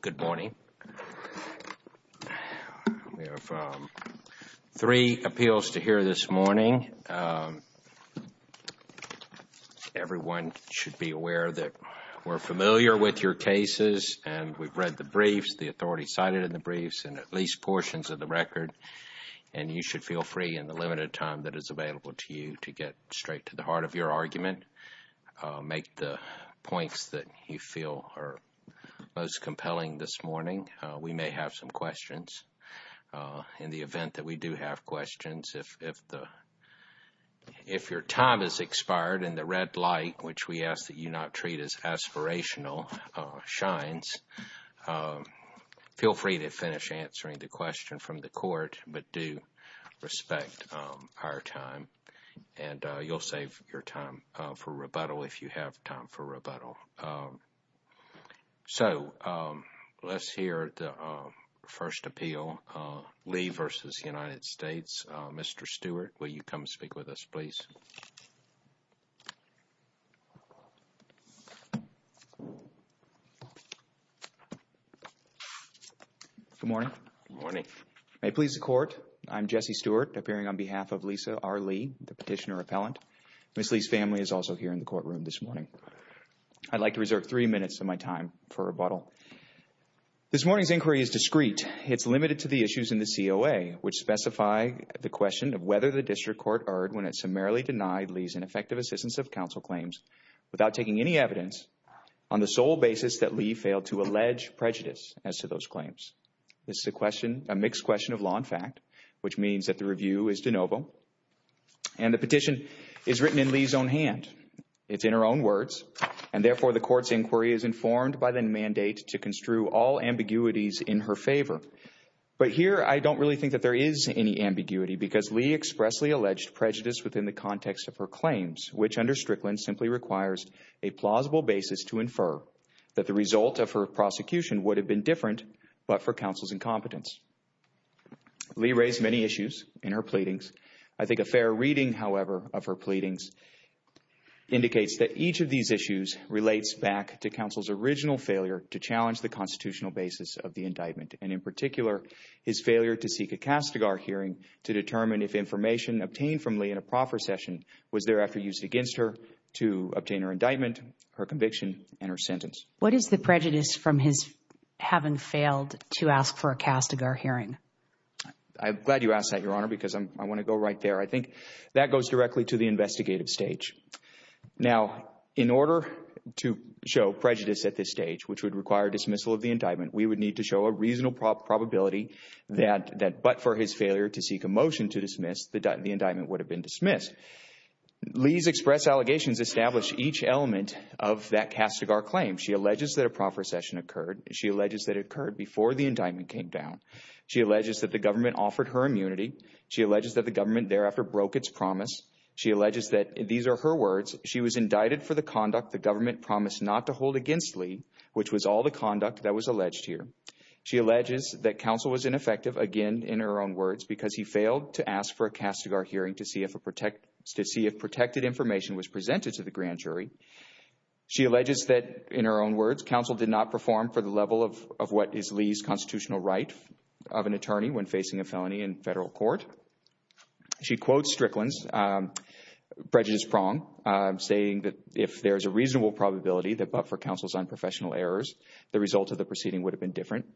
Good morning. We have three appeals to hear this morning. Everyone should be aware that we're familiar with your cases, and we've read the briefs, the authority cited in the briefs, and at least portions of the record, and you should feel free in the limited time that is available to you to get straight to the heart of your argument. Make the points that you feel are most compelling this morning. We may have some questions. In the event that we do have questions, if your time has expired and the red light, which we ask that you not treat as aspirational, shines, feel free to finish answering the question from the court, but do respect our time, and you'll save your time. For rebuttal, if you have time for rebuttal. So, let's hear the first appeal, Lee v. United States. Mr. Stewart, will you come speak with us, please? Good morning. May it please the Court, I'm Jesse Stewart, appearing on behalf of Lisa R. Lee, the petitioner-appellant. Ms. Lee's family is also here in the courtroom this morning. I'd like to reserve three minutes of my time for rebuttal. This morning's inquiry is discreet. It's limited to the issues in the COA, which specify the question of whether the district court erred when it summarily denied Lee's ineffective assistance of counsel claims without taking any evidence on the sole basis that Lee failed to allege prejudice as to those claims. This is a mixed question of law and fact, which means that the review is de novo, and the petition is written in Lee's own hand. It's in her own words, and therefore the Court's inquiry is informed by the mandate to construe all ambiguities in her favor. But here, I don't really think that there is any ambiguity, because Lee expressly alleged prejudice within the context of her claims, which under Strickland simply requires a plausible basis to infer that the result of her prosecution would have been different but for counsel's incompetence. Lee raised many issues in her pleadings. I think a fair reading, however, of her pleadings indicates that each of these issues relates back to counsel's original failure to challenge the constitutional basis of the indictment, and in particular, his failure to seek a Castigar hearing to determine if information obtained from Lee in a proffer session was thereafter used against her to obtain her indictment, her conviction, and her sentence. What is the prejudice from his having failed to ask for a Castigar hearing? I'm glad you asked that, Your Honor, because I want to go right there. I think that goes directly to the investigative stage. Now, in order to show prejudice at this stage, which would require dismissal of the indictment, we would need to show a reasonable probability that but for his failure to seek a motion to dismiss, the indictment would have been dismissed. Lee's express allegations establish each element of that Castigar claim. She alleges that a proffer session occurred. She alleges that it occurred before the indictment came down. She alleges that the government offered her immunity. She alleges that the government thereafter broke its promise. She alleges that, these are her words, she was indicted for the conduct the government promised not to hold against Lee, which was all the conduct that was alleged here. She alleges that counsel was ineffective, again, in her own words, because he failed to ask for a Castigar hearing to see if protected information was presented to the grand jury. She alleges that, in her own words, counsel did not perform for the level of what is Lee's constitutional right of an attorney when facing a felony in federal court. She quotes Strickland's prejudice prong, saying that if there is a reasonable probability that but for counsel's unprofessional errors, the result of the proceeding would have been different.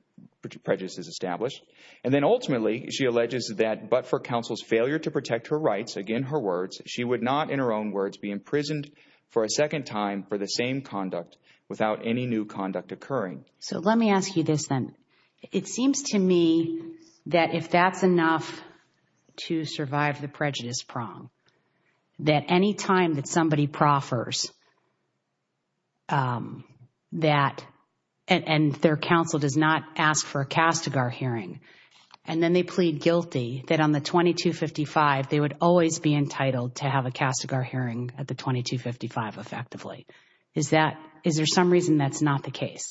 Prejudice is established. And then ultimately, she alleges that but for counsel's failure to protect her rights, again, her words, she would not, in her own words, be imprisoned for a second time for the same conduct without any new conduct occurring. So let me ask you this then. It seems to me that if that's enough to survive the prejudice prong, that any time that somebody proffers that, and their counsel does not ask for a Castigar hearing, and then they plead guilty, that on the 2255, they would always be entitled to have a Castigar hearing at the 2255 effectively. Is there some reason that's not the case?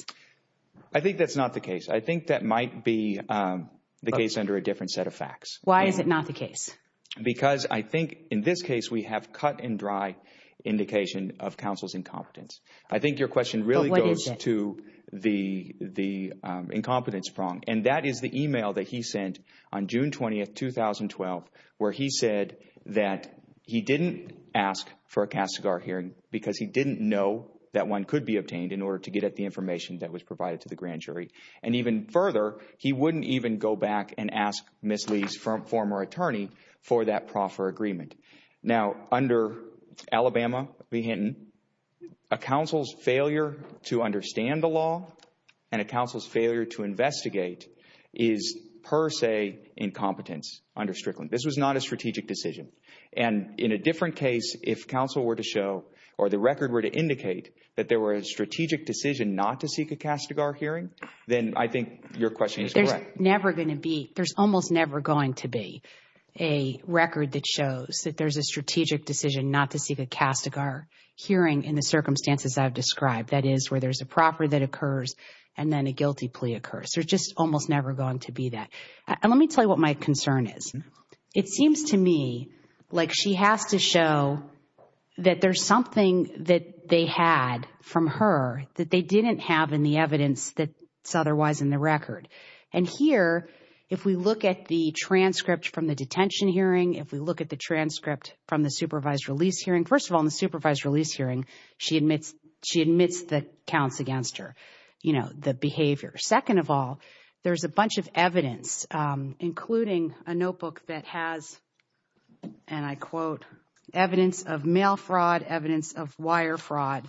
I think that's not the case. I think that might be the case under a different set of facts. Why is it not the case? Because I think in this case, we have cut and dry indication of counsel's incompetence. I think your question really goes to the incompetence prong. And that is the email that he sent on June 20, 2012, where he said that he didn't ask for a Castigar hearing because he didn't know that one could be obtained in order to get at the information that was provided to the grand jury. And even further, he wouldn't even go back and ask Ms. Lee's former attorney for that proffer agreement. Now, under Alabama v. Hinton, a counsel's failure to understand the law and a counsel's failure to investigate is per se incompetence under Strickland. This was not a strategic decision. And in a different case, if counsel were to show or the record were to indicate that there were a strategic decision not to seek a Castigar hearing, then I think your question is correct. There's almost never going to be a record that shows that there's a strategic decision not to seek a Castigar hearing in the circumstances I've described. That is, where there's a proffer that occurs and then a guilty plea occurs. There's just almost never going to be that. And let me tell you what my concern is. It seems to me like she has to show that there's something that they had from her that they didn't have in the evidence that's otherwise in the record. And here, if we look at the transcript from the detention hearing, if we look at the transcript from the supervised release hearing, first of all, in the supervised release hearing, she admits that counts against her, you know, the behavior. Second of all, there's a bunch of evidence, including a notebook that has, and I quote, evidence of mail fraud, evidence of wire fraud,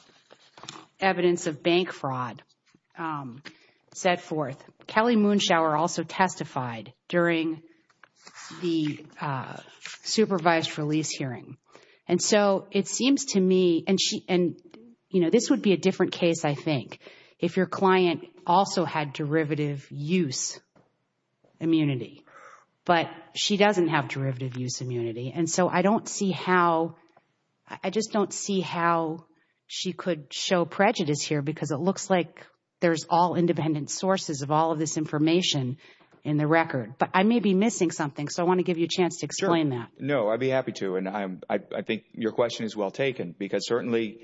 evidence of bank fraud set forth. Kelly Moonshower also testified during the supervised release hearing. And so it seems to me, and, you know, this would be a different case, I think, if your client also had derivative use immunity. But she doesn't have derivative use immunity. And so I don't see how – I just don't see how she could show prejudice here because it looks like there's all independent sources of all of this information in the record. But I may be missing something, so I want to give you a chance to explain that. No, I'd be happy to. And I think your question is well taken because certainly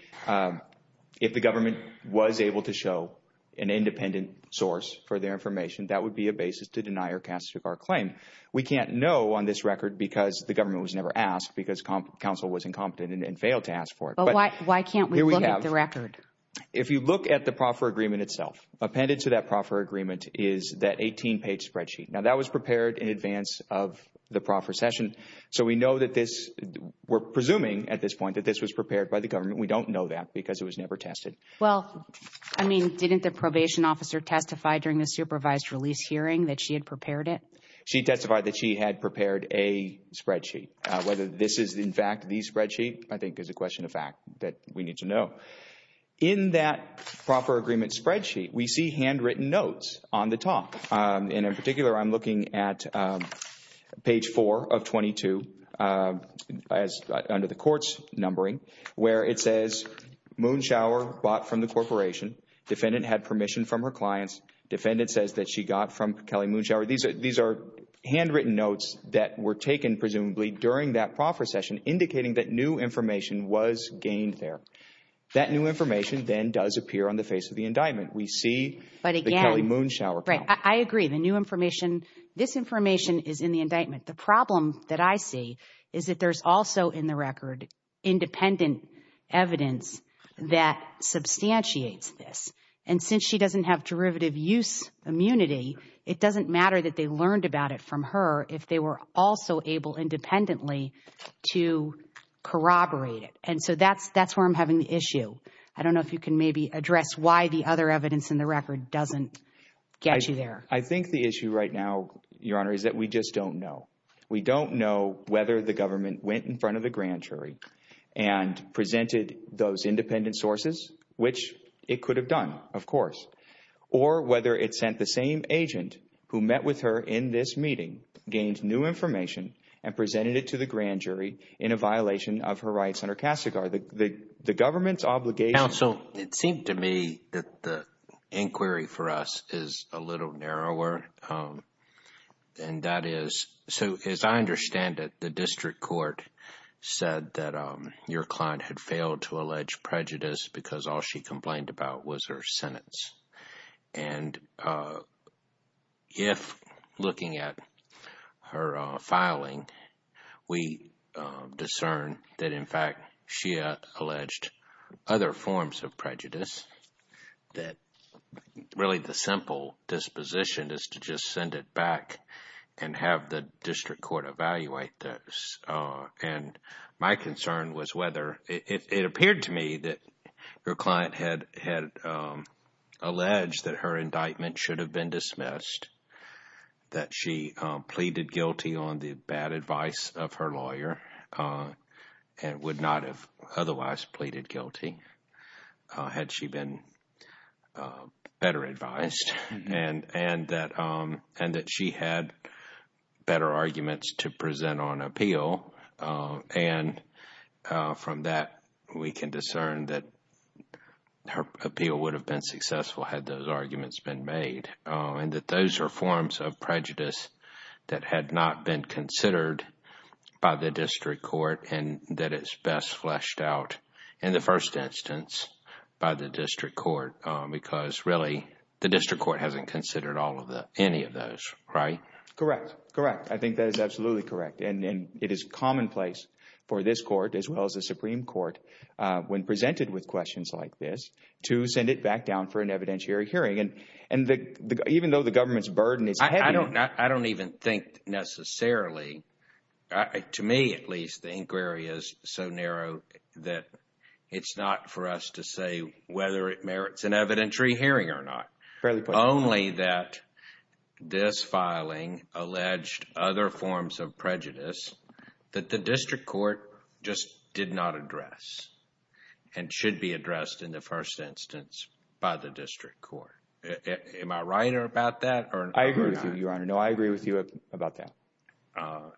if the government was able to show an independent source for their information, that would be a basis to deny or castigate our claim. We can't know on this record because the government was never asked because counsel was incompetent and failed to ask for it. But why can't we look at the record? If you look at the proffer agreement itself, appended to that proffer agreement is that 18-page spreadsheet. Now, that was prepared in advance of the proffer session. So we know that this – we're presuming at this point that this was prepared by the government. We don't know that because it was never tested. Well, I mean, didn't the probation officer testify during the supervised release hearing that she had prepared it? She testified that she had prepared a spreadsheet. Whether this is in fact the spreadsheet I think is a question of fact that we need to know. In that proffer agreement spreadsheet, we see handwritten notes on the top. And in particular, I'm looking at page 4 of 22 under the court's numbering where it says Moonshower bought from the corporation. Defendant had permission from her clients. Defendant says that she got from Kelly Moonshower. These are handwritten notes that were taken presumably during that proffer session indicating that new information was gained there. That new information then does appear on the face of the indictment. We see the Kelly Moonshower account. I agree. The new information – this information is in the indictment. The problem that I see is that there's also in the record independent evidence that substantiates this. And since she doesn't have derivative use immunity, it doesn't matter that they learned about it from her if they were also able independently to corroborate it. And so that's where I'm having the issue. I don't know if you can maybe address why the other evidence in the record doesn't get you there. I think the issue right now, Your Honor, is that we just don't know. We don't know whether the government went in front of the grand jury and presented those independent sources, which it could have done, of course, or whether it sent the same agent who met with her in this meeting, gained new information, and presented it to the grand jury in a violation of her rights under CASAGAR. The government's obligation – Counsel, it seemed to me that the inquiry for us is a little narrower. And that is – so as I understand it, the district court said that your client had failed to allege prejudice because all she complained about was her sentence. And if, looking at her filing, we discern that, in fact, she alleged other forms of prejudice, that really the simple disposition is to just send it back and have the district court evaluate this. And my concern was whether – it appeared to me that your client had alleged that her indictment should have been dismissed, that she pleaded guilty on the bad advice of her lawyer and would not have otherwise pleaded guilty had she been better advised, and that she had better arguments to present on appeal. And from that, we can discern that her appeal would have been successful had those arguments been made, and that those are forms of prejudice that had not been considered by the district court, and that it's best fleshed out in the first instance by the district court because, really, the district court hasn't considered any of those, right? Correct. Correct. I think that is absolutely correct. And it is commonplace for this court as well as the Supreme Court, when presented with questions like this, to send it back down for an evidentiary hearing. And even though the government's burden is heavy – I don't even think necessarily – to me, at least, the inquiry is so narrow that it's not for us to say whether it merits an evidentiary hearing or not. Fairly possible. Only that this filing alleged other forms of prejudice that the district court just did not address and should be addressed in the first instance by the district court. Am I right about that? I agree with you, Your Honor. No, I agree with you about that.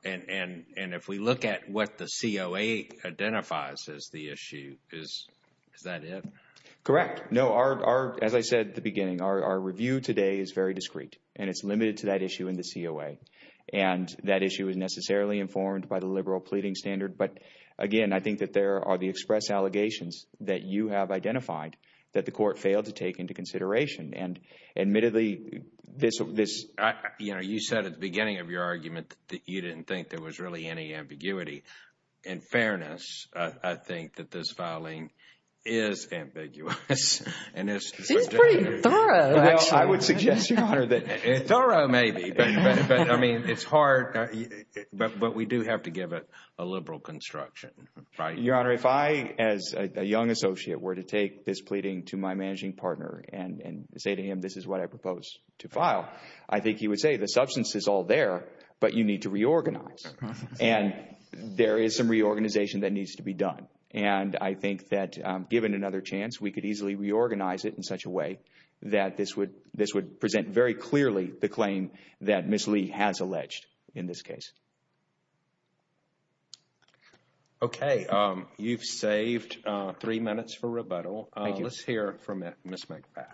And if we look at what the COA identifies as the issue, is that it? Correct. No, as I said at the beginning, our review today is very discreet, and it's limited to that issue in the COA. And that issue is necessarily informed by the liberal pleading standard. But, again, I think that there are the express allegations that you have identified that the court failed to take into consideration. And admittedly, this – You know, you said at the beginning of your argument that you didn't think there was really any ambiguity. In fairness, I think that this filing is ambiguous. It's pretty thorough, actually. Well, I would suggest, Your Honor, that – Thorough, maybe. But, I mean, it's hard. But we do have to give it a liberal construction. Your Honor, if I, as a young associate, were to take this pleading to my managing partner and say to him, this is what I propose to file, I think he would say, the substance is all there, but you need to reorganize. And there is some reorganization that needs to be done. And I think that, given another chance, we could easily reorganize it in such a way that this would present very clearly the claim that Ms. Lee has alleged in this case. Okay. You've saved three minutes for rebuttal. Thank you. Let's hear from Ms. McBath.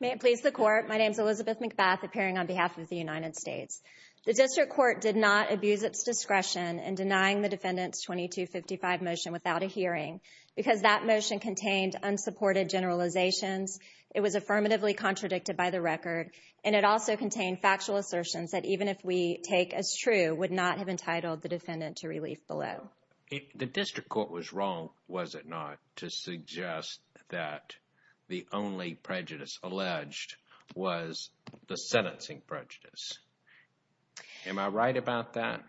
May it please the Court, my name is Elizabeth McBath, appearing on behalf of the United States. The District Court did not abuse its discretion in denying the defendant's 2255 motion without a hearing because that motion contained unsupported generalizations, it was affirmatively contradicted by the record, and it also contained factual assertions that, even if we take as true, would not have entitled the defendant to relief below. The District Court was wrong, was it not, to suggest that the only prejudice alleged was the sentencing prejudice. Am I right about that?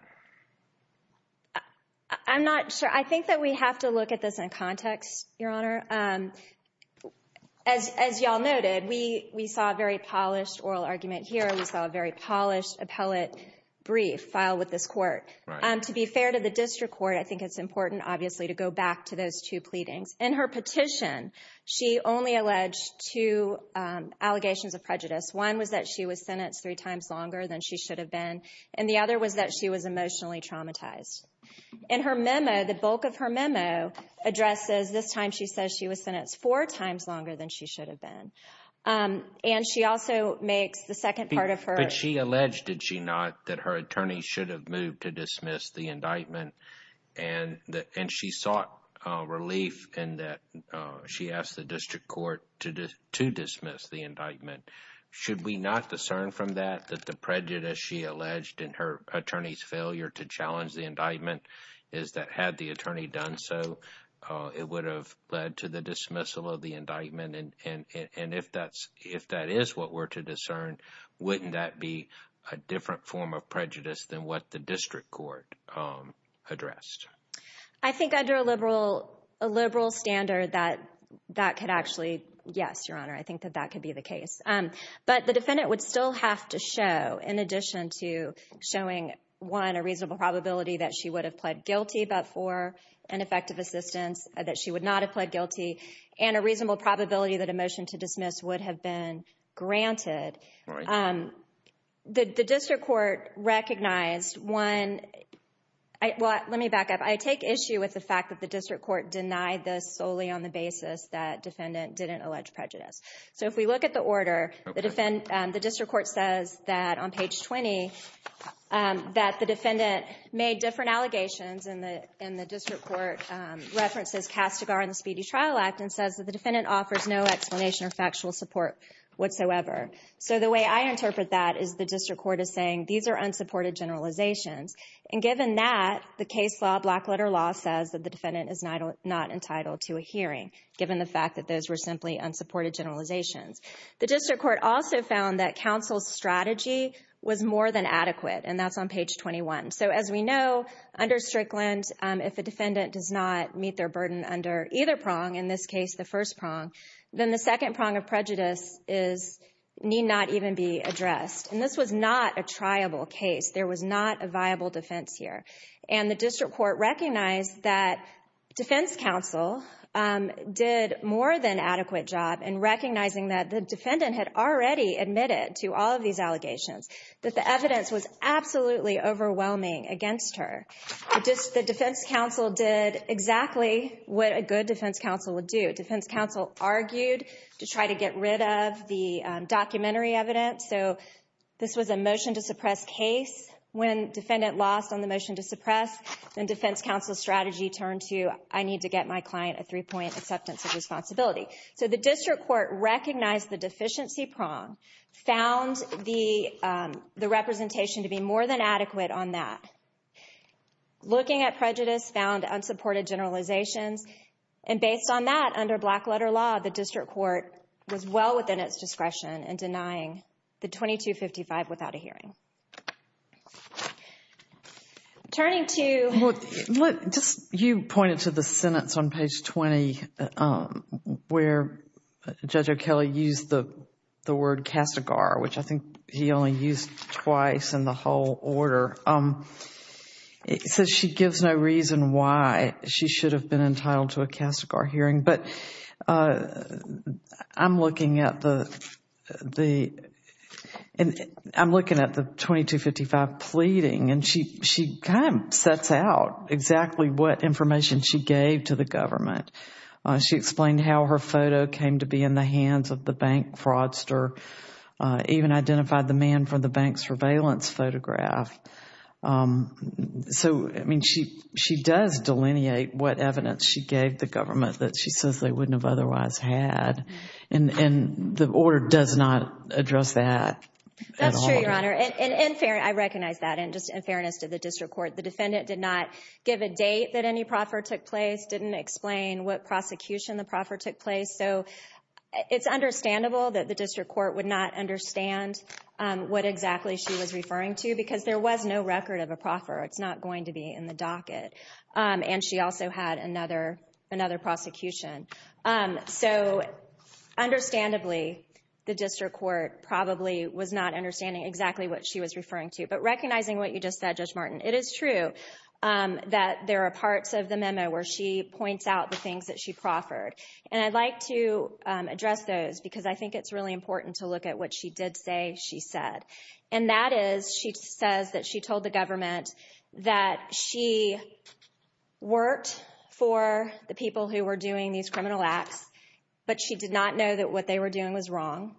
I'm not sure. I think that we have to look at this in context, Your Honor. As y'all noted, we saw a very polished oral argument here, we saw a very polished appellate brief filed with this Court. To be fair to the District Court, I think it's important, obviously, to go back to those two pleadings. In her petition, she only alleged two allegations of prejudice. One was that she was sentenced three times longer than she should have been. And the other was that she was emotionally traumatized. In her memo, the bulk of her memo addresses this time she says she was sentenced four times longer than she should have been. And she also makes the second part of her… But she alleged, did she not, that her attorney should have moved to dismiss the indictment, and she sought relief in that she asked the District Court to dismiss the indictment. Should we not discern from that that the prejudice she alleged in her attorney's failure to challenge the indictment is that had the attorney done so, it would have led to the dismissal of the indictment? And if that is what we're to discern, wouldn't that be a different form of prejudice than what the District Court addressed? I think under a liberal standard that that could actually… Yes, Your Honor, I think that that could be the case. But the defendant would still have to show, in addition to showing, one, a reasonable probability that she would have pled guilty but for ineffective assistance, that she would not have pled guilty, and a reasonable probability that a motion to dismiss would have been granted. The District Court recognized one… Well, let me back up. I take issue with the fact that the District Court denied this solely on the basis that defendant didn't allege prejudice. So if we look at the order, the District Court says that on page 20 that the defendant made different allegations, and the District Court references Castigar in the Speedy Trial Act and says that the defendant offers no explanation or factual support whatsoever. So the way I interpret that is the District Court is saying these are unsupported generalizations. And given that, the case law, black-letter law, says that the defendant is not entitled to a hearing, given the fact that those were simply unsupported generalizations. The District Court also found that counsel's strategy was more than adequate, and that's on page 21. So as we know, under Strickland, if a defendant does not meet their burden under either prong, in this case the first prong, then the second prong of prejudice need not even be addressed. And this was not a triable case. There was not a viable defense here. And the District Court recognized that defense counsel did more than adequate job in recognizing that the defendant had already admitted to all of these allegations, that the evidence was absolutely overwhelming against her. The defense counsel did exactly what a good defense counsel would do. Defense counsel argued to try to get rid of the documentary evidence. So this was a motion to suppress case. When defendant lost on the motion to suppress, then defense counsel's strategy turned to, I need to get my client a three-point acceptance of responsibility. So the District Court recognized the deficiency prong, found the representation to be more than adequate on that, looking at prejudice, found unsupported generalizations, and based on that, under black-letter law, the District Court was well within its discretion in denying the 2255 without a hearing. Turning to... Just you pointed to the sentence on page 20 where Judge O'Kelley used the word castigar, which I think he only used twice in the whole order. It says she gives no reason why she should have been entitled to a castigar hearing. But I'm looking at the 2255 pleading, and she kind of sets out exactly what information she gave to the government. She explained how her photo came to be in the hands of the bank fraudster, even identified the man from the bank surveillance photograph. So, I mean, she does delineate what evidence she gave the government that she says they wouldn't have otherwise had, and the order does not address that at all. That's true, Your Honor. And I recognize that in fairness to the District Court. The defendant did not give a date that any proffer took place, didn't explain what prosecution the proffer took place. So it's understandable that the District Court would not understand what exactly she was referring to because there was no record of a proffer. It's not going to be in the docket. And she also had another prosecution. So, understandably, the District Court probably was not understanding exactly what she was referring to. But recognizing what you just said, Judge Martin, it is true that there are parts of the memo where she points out the things that she proffered. And I'd like to address those because I think it's really important to look at what she did say she said. And that is, she says that she told the government that she worked for the people who were doing these criminal acts, but she did not know that what they were doing was wrong.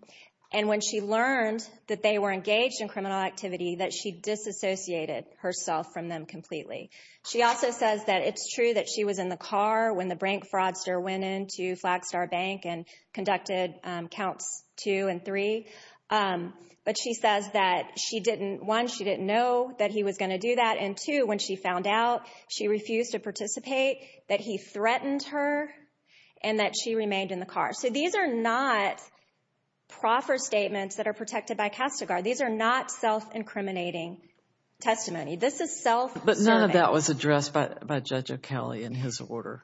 And when she learned that they were engaged in criminal activity, that she disassociated herself from them completely. She also says that it's true that she was in the car when the brink fraudster went into Flagstar Bank and conducted counts two and three. But she says that, one, she didn't know that he was going to do that. And, two, when she found out, she refused to participate, that he threatened her, and that she remained in the car. So these are not proffer statements that are protected by Castigar. These are not self-incriminating testimony. This is self-absorbing. But none of that was addressed by Judge O'Cally in his order.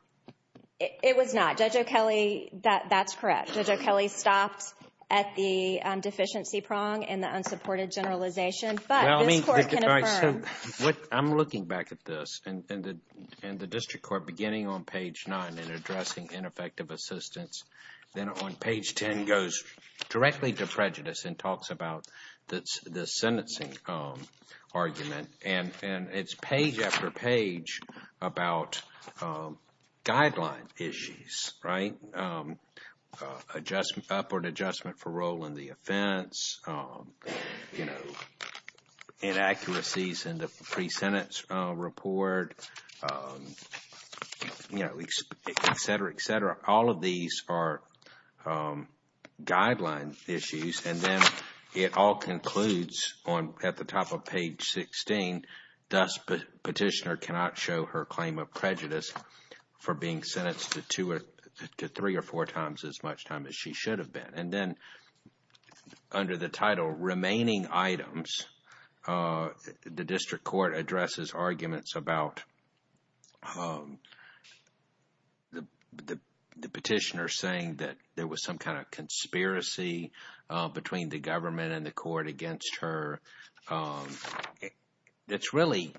It was not. Judge O'Cally, that's correct. Judge O'Cally stopped at the deficiency prong and the unsupported generalization. But this court can affirm. I'm looking back at this, and the district court, beginning on page 9 and addressing ineffective assistance, then on page 10 goes directly to prejudice and talks about the sentencing argument. And it's page after page about guideline issues, right? Upward adjustment for role in the offense, inaccuracies in the pre-sentence report, etc., etc. All of these are guideline issues. And then it all concludes at the top of page 16. Thus, petitioner cannot show her claim of prejudice for being sentenced to three or four times as much time as she should have been. And then under the title, Remaining Items, the district court addresses arguments about the petitioner saying that there was some kind of conspiracy between the government and the court against her. It's really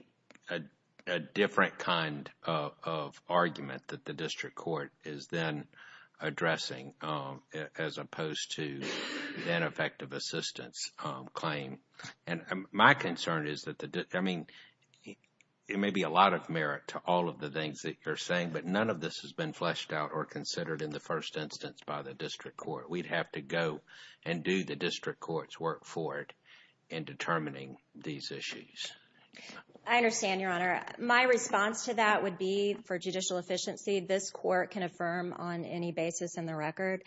a different kind of argument that the district court is then addressing as opposed to an effective assistance claim. And my concern is that, I mean, it may be a lot of merit to all of the things that you're saying, but none of this has been fleshed out or considered in the first instance by the district court. We'd have to go and do the district court's work for it in determining these issues. I understand, Your Honor. My response to that would be, for judicial efficiency, this court can affirm on any basis in the record.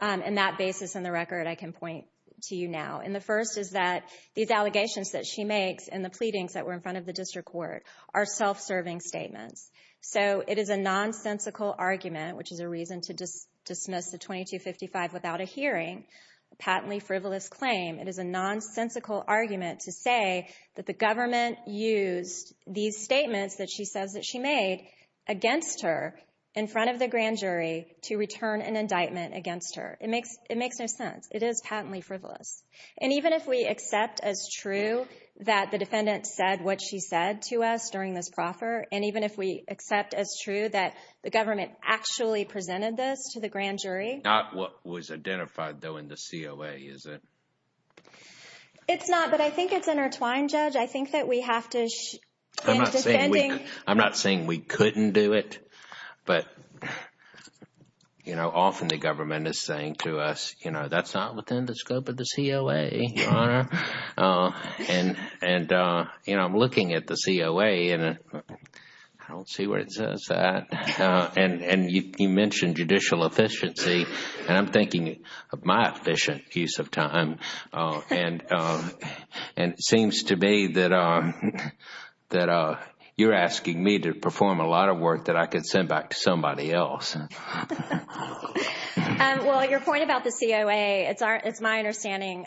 And that basis in the record I can point to you now. And the first is that these allegations that she makes and the pleadings that were in front of the district court are self-serving statements. So it is a nonsensical argument, which is a reason to dismiss the 2255 without a hearing, a patently frivolous claim. It is a nonsensical argument to say that the government used these statements that she says that she made against her in front of the grand jury to return an indictment against her. It makes no sense. It is patently frivolous. And even if we accept as true that the defendant said what she said to us during this proffer, and even if we accept as true that the government actually presented this to the grand jury. Not what was identified, though, in the COA, is it? It's not, but I think it's intertwined, Judge. I think that we have to end up defending. I'm not saying we couldn't do it, but often the government is saying to us, you know, that's not within the scope of the COA, Your Honor. And, you know, I'm looking at the COA, and I don't see where it says that. And you mentioned judicial efficiency, and I'm thinking of my efficient use of time. And it seems to me that you're asking me to perform a lot of work that I could send back to somebody else. Well, your point about the COA, it's my understanding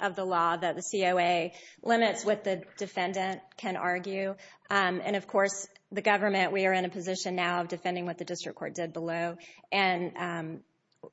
of the law that the COA limits what the defendant can argue. And, of course, the government, we are in a position now of defending what the district court did below. And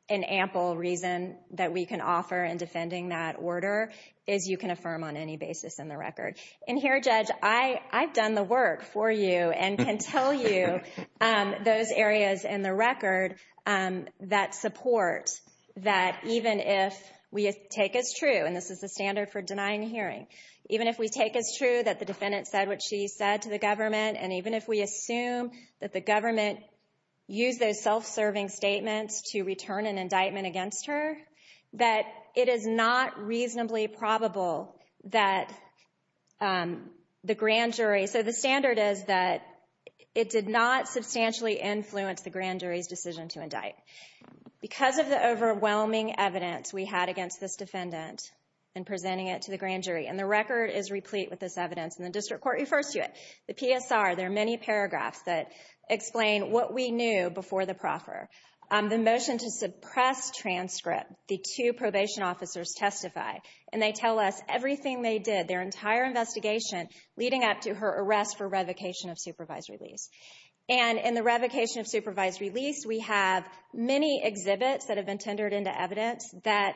an ample reason that we can offer in defending that order is you can affirm on any basis in the record. And here, Judge, I've done the work for you and can tell you those areas in the record that support that even if we take as true, and this is the standard for denying a hearing, even if we take as true that the defendant said what she said to the government, and even if we assume that the government used those self-serving statements to return an indictment against her, that it is not reasonably probable that the grand jury... that it did not substantially influence the grand jury's decision to indict. Because of the overwhelming evidence we had against this defendant in presenting it to the grand jury, and the record is replete with this evidence, and the district court refers to it, the PSR, there are many paragraphs that explain what we knew before the proffer. The motion to suppress transcript, the two probation officers testify, and they tell us everything they did, their entire investigation, leading up to her arrest for revocation of supervised release. And in the revocation of supervised release, we have many exhibits that have been tendered into evidence that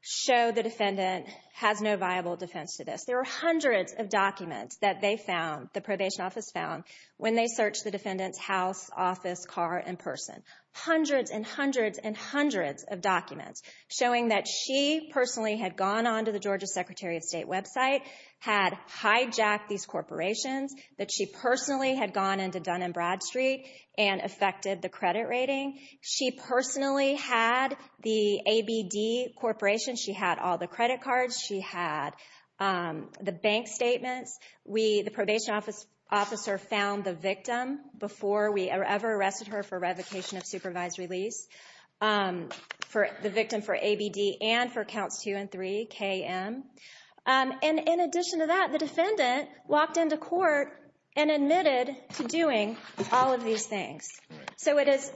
show the defendant has no viable defense to this. There are hundreds of documents that they found, the probation office found, when they searched the defendant's house, office, car, and person. Hundreds and hundreds and hundreds of documents showing that she personally had gone on to the Georgia Secretary of State website, had hijacked these corporations, that she personally had gone into Dun & Bradstreet and affected the credit rating. She personally had the ABD Corporation, she had all the credit cards, she had the bank statements. The probation officer found the victim before we ever arrested her for revocation of supervised release, the victim for ABD, and for counts two and three, KM. And in addition to that, the defendant walked into court and admitted to doing all of these things. So it is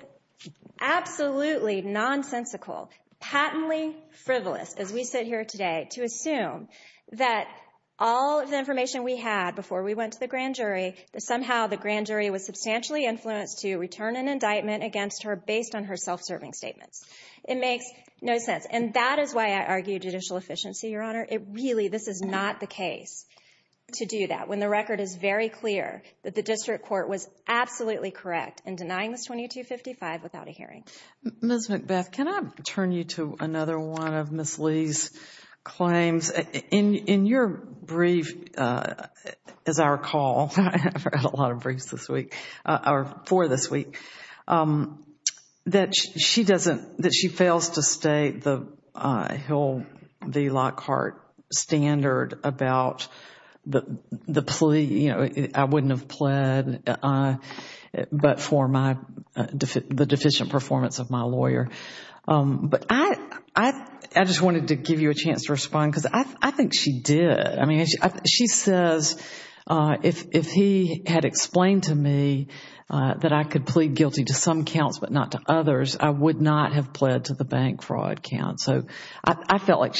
absolutely nonsensical, patently frivolous, as we sit here today, to assume that all of the information we had before we went to the grand jury, that somehow the grand jury was substantially influenced to return an indictment against her based on her self-serving statements. It makes no sense. And that is why I argue judicial efficiency, Your Honor, really, this is not the case to do that when the record is very clear that the district court was absolutely correct in denying this 2255 without a hearing. Ms. McBeth, can I turn you to another one of Ms. Lee's claims? In your brief, as I recall, I've read a lot of briefs this week, or for this week, that she fails to state the Hill v. Lockhart standard about the plea, you know, I wouldn't have pled, but for the deficient performance of my lawyer. But I just wanted to give you a chance to respond because I think she did. I mean, she says, if he had explained to me that I could plead guilty to some counts but not to others, I would not have pled to the bank fraud count. So I felt like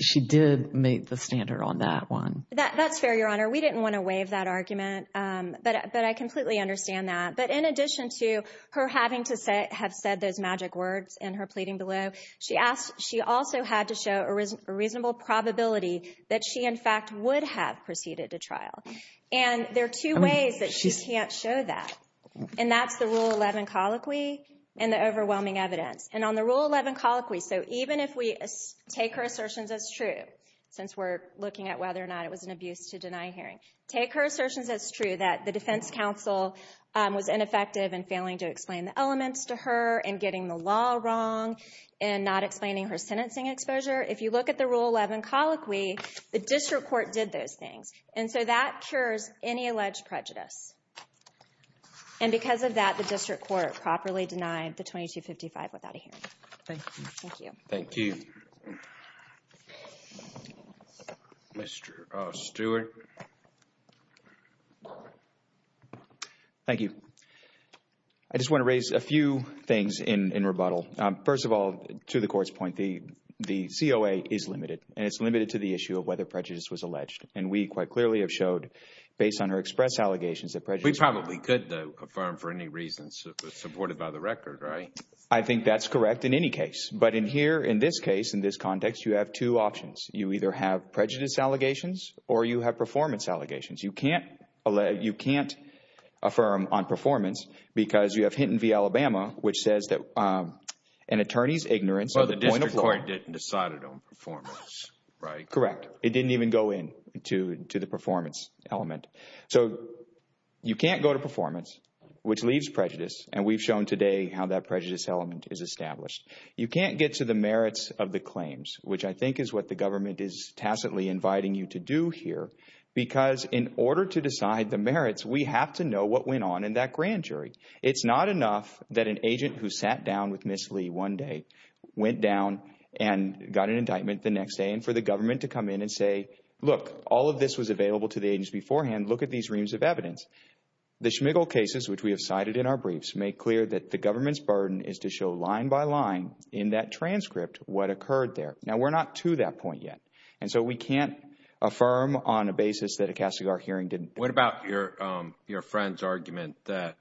she did meet the standard on that one. That's fair, Your Honor. We didn't want to waive that argument, but I completely understand that. But in addition to her having to have said those magic words in her pleading below, she also had to show a reasonable probability that she, in fact, would have proceeded to trial. And there are two ways that she can't show that, and that's the Rule 11 colloquy and the overwhelming evidence. And on the Rule 11 colloquy, so even if we take her assertions as true, since we're looking at whether or not it was an abuse to deny hearing, take her assertions as true that the defense counsel was ineffective in failing to explain the elements to her and getting the law wrong and not explaining her sentencing exposure. If you look at the Rule 11 colloquy, the district court did those things. And so that cures any alleged prejudice. And because of that, the district court properly denied the 2255 without a hearing. Thank you. Thank you. Mr. Stewart. Thank you. I just want to raise a few things in rebuttal. First of all, to the court's point, the COA is limited, And we quite clearly have showed, based on her express allegations of prejudice. We probably could, though, affirm for any reasons supported by the record, right? I think that's correct in any case. But in here, in this case, in this context, you have two options. You either have prejudice allegations or you have performance allegations. You can't affirm on performance because you have Hinton v. Alabama, which says that an attorney's ignorance of the point of law. But the district court didn't decide it on performance, right? Correct. It didn't even go in to the performance element. So you can't go to performance, which leaves prejudice. And we've shown today how that prejudice element is established. You can't get to the merits of the claims, which I think is what the government is tacitly inviting you to do here. Because in order to decide the merits, we have to know what went on in that grand jury. It's not enough that an agent who sat down with Ms. Lee one day went down and got an indictment the next day and for the government to come in and say, look, all of this was available to the agents beforehand. Look at these reams of evidence. The Schmigel cases, which we have cited in our briefs, make clear that the government's burden is to show line by line in that transcript what occurred there. Now, we're not to that point yet. And so we can't affirm on a basis that a Cassegard hearing didn't. What about your friend's argument that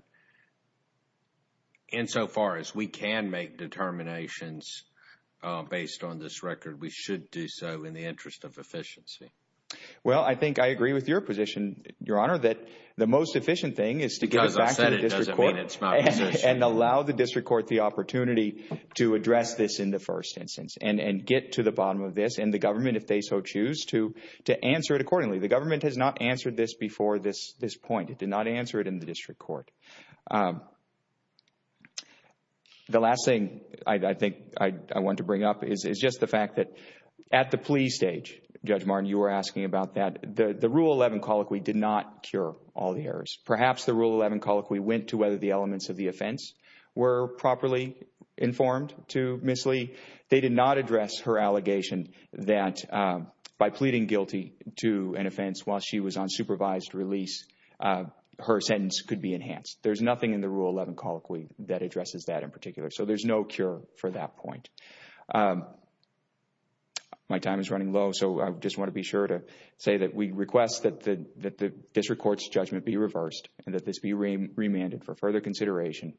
insofar as we can make determinations based on this record, we should do so in the interest of efficiency? Well, I think I agree with your position, Your Honour, that the most efficient thing is to give it back to the district court and allow the district court the opportunity to address this in the first instance and get to the bottom of this and the government, if they so choose, to answer it accordingly. The government has not answered this before this point. It did not answer it in the district court. The last thing I think I want to bring up is just the fact that at the plea stage, Judge Martin, you were asking about that, the Rule 11 colloquy did not cure all the errors. Perhaps the Rule 11 colloquy went to whether the elements of the offense were properly informed to Ms. Lee. They did not address her allegation that by pleading guilty to an offense while she was on supervised release, her sentence could be enhanced. There's nothing in the Rule 11 colloquy that addresses that in particular. So there's no cure for that point. My time is running low, so I just want to be sure to say that we request that the district court's judgment be reversed and that this be remanded for further consideration.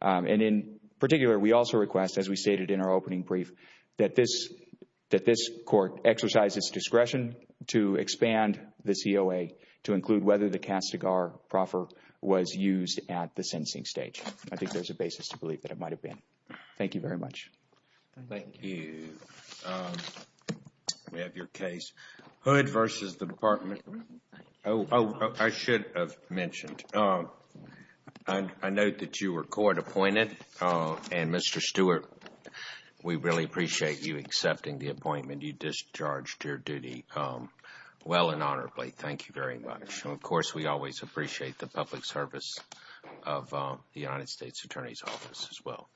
And in particular, we also request, as we stated in our opening brief, that this court exercise its discretion to expand the COA to include whether the castigar proffer was used at the sentencing stage. I think there's a basis to believe that it might have been. Thank you very much. Thank you. We have your case. Hood versus the Department. Oh, I should have mentioned. I note that you were court appointed, and Mr. Stewart, we really appreciate you accepting the appointment. You discharged your duty well and honorably. Thank you very much. And, of course, we always appreciate the public service of the United States Attorney's Office as well.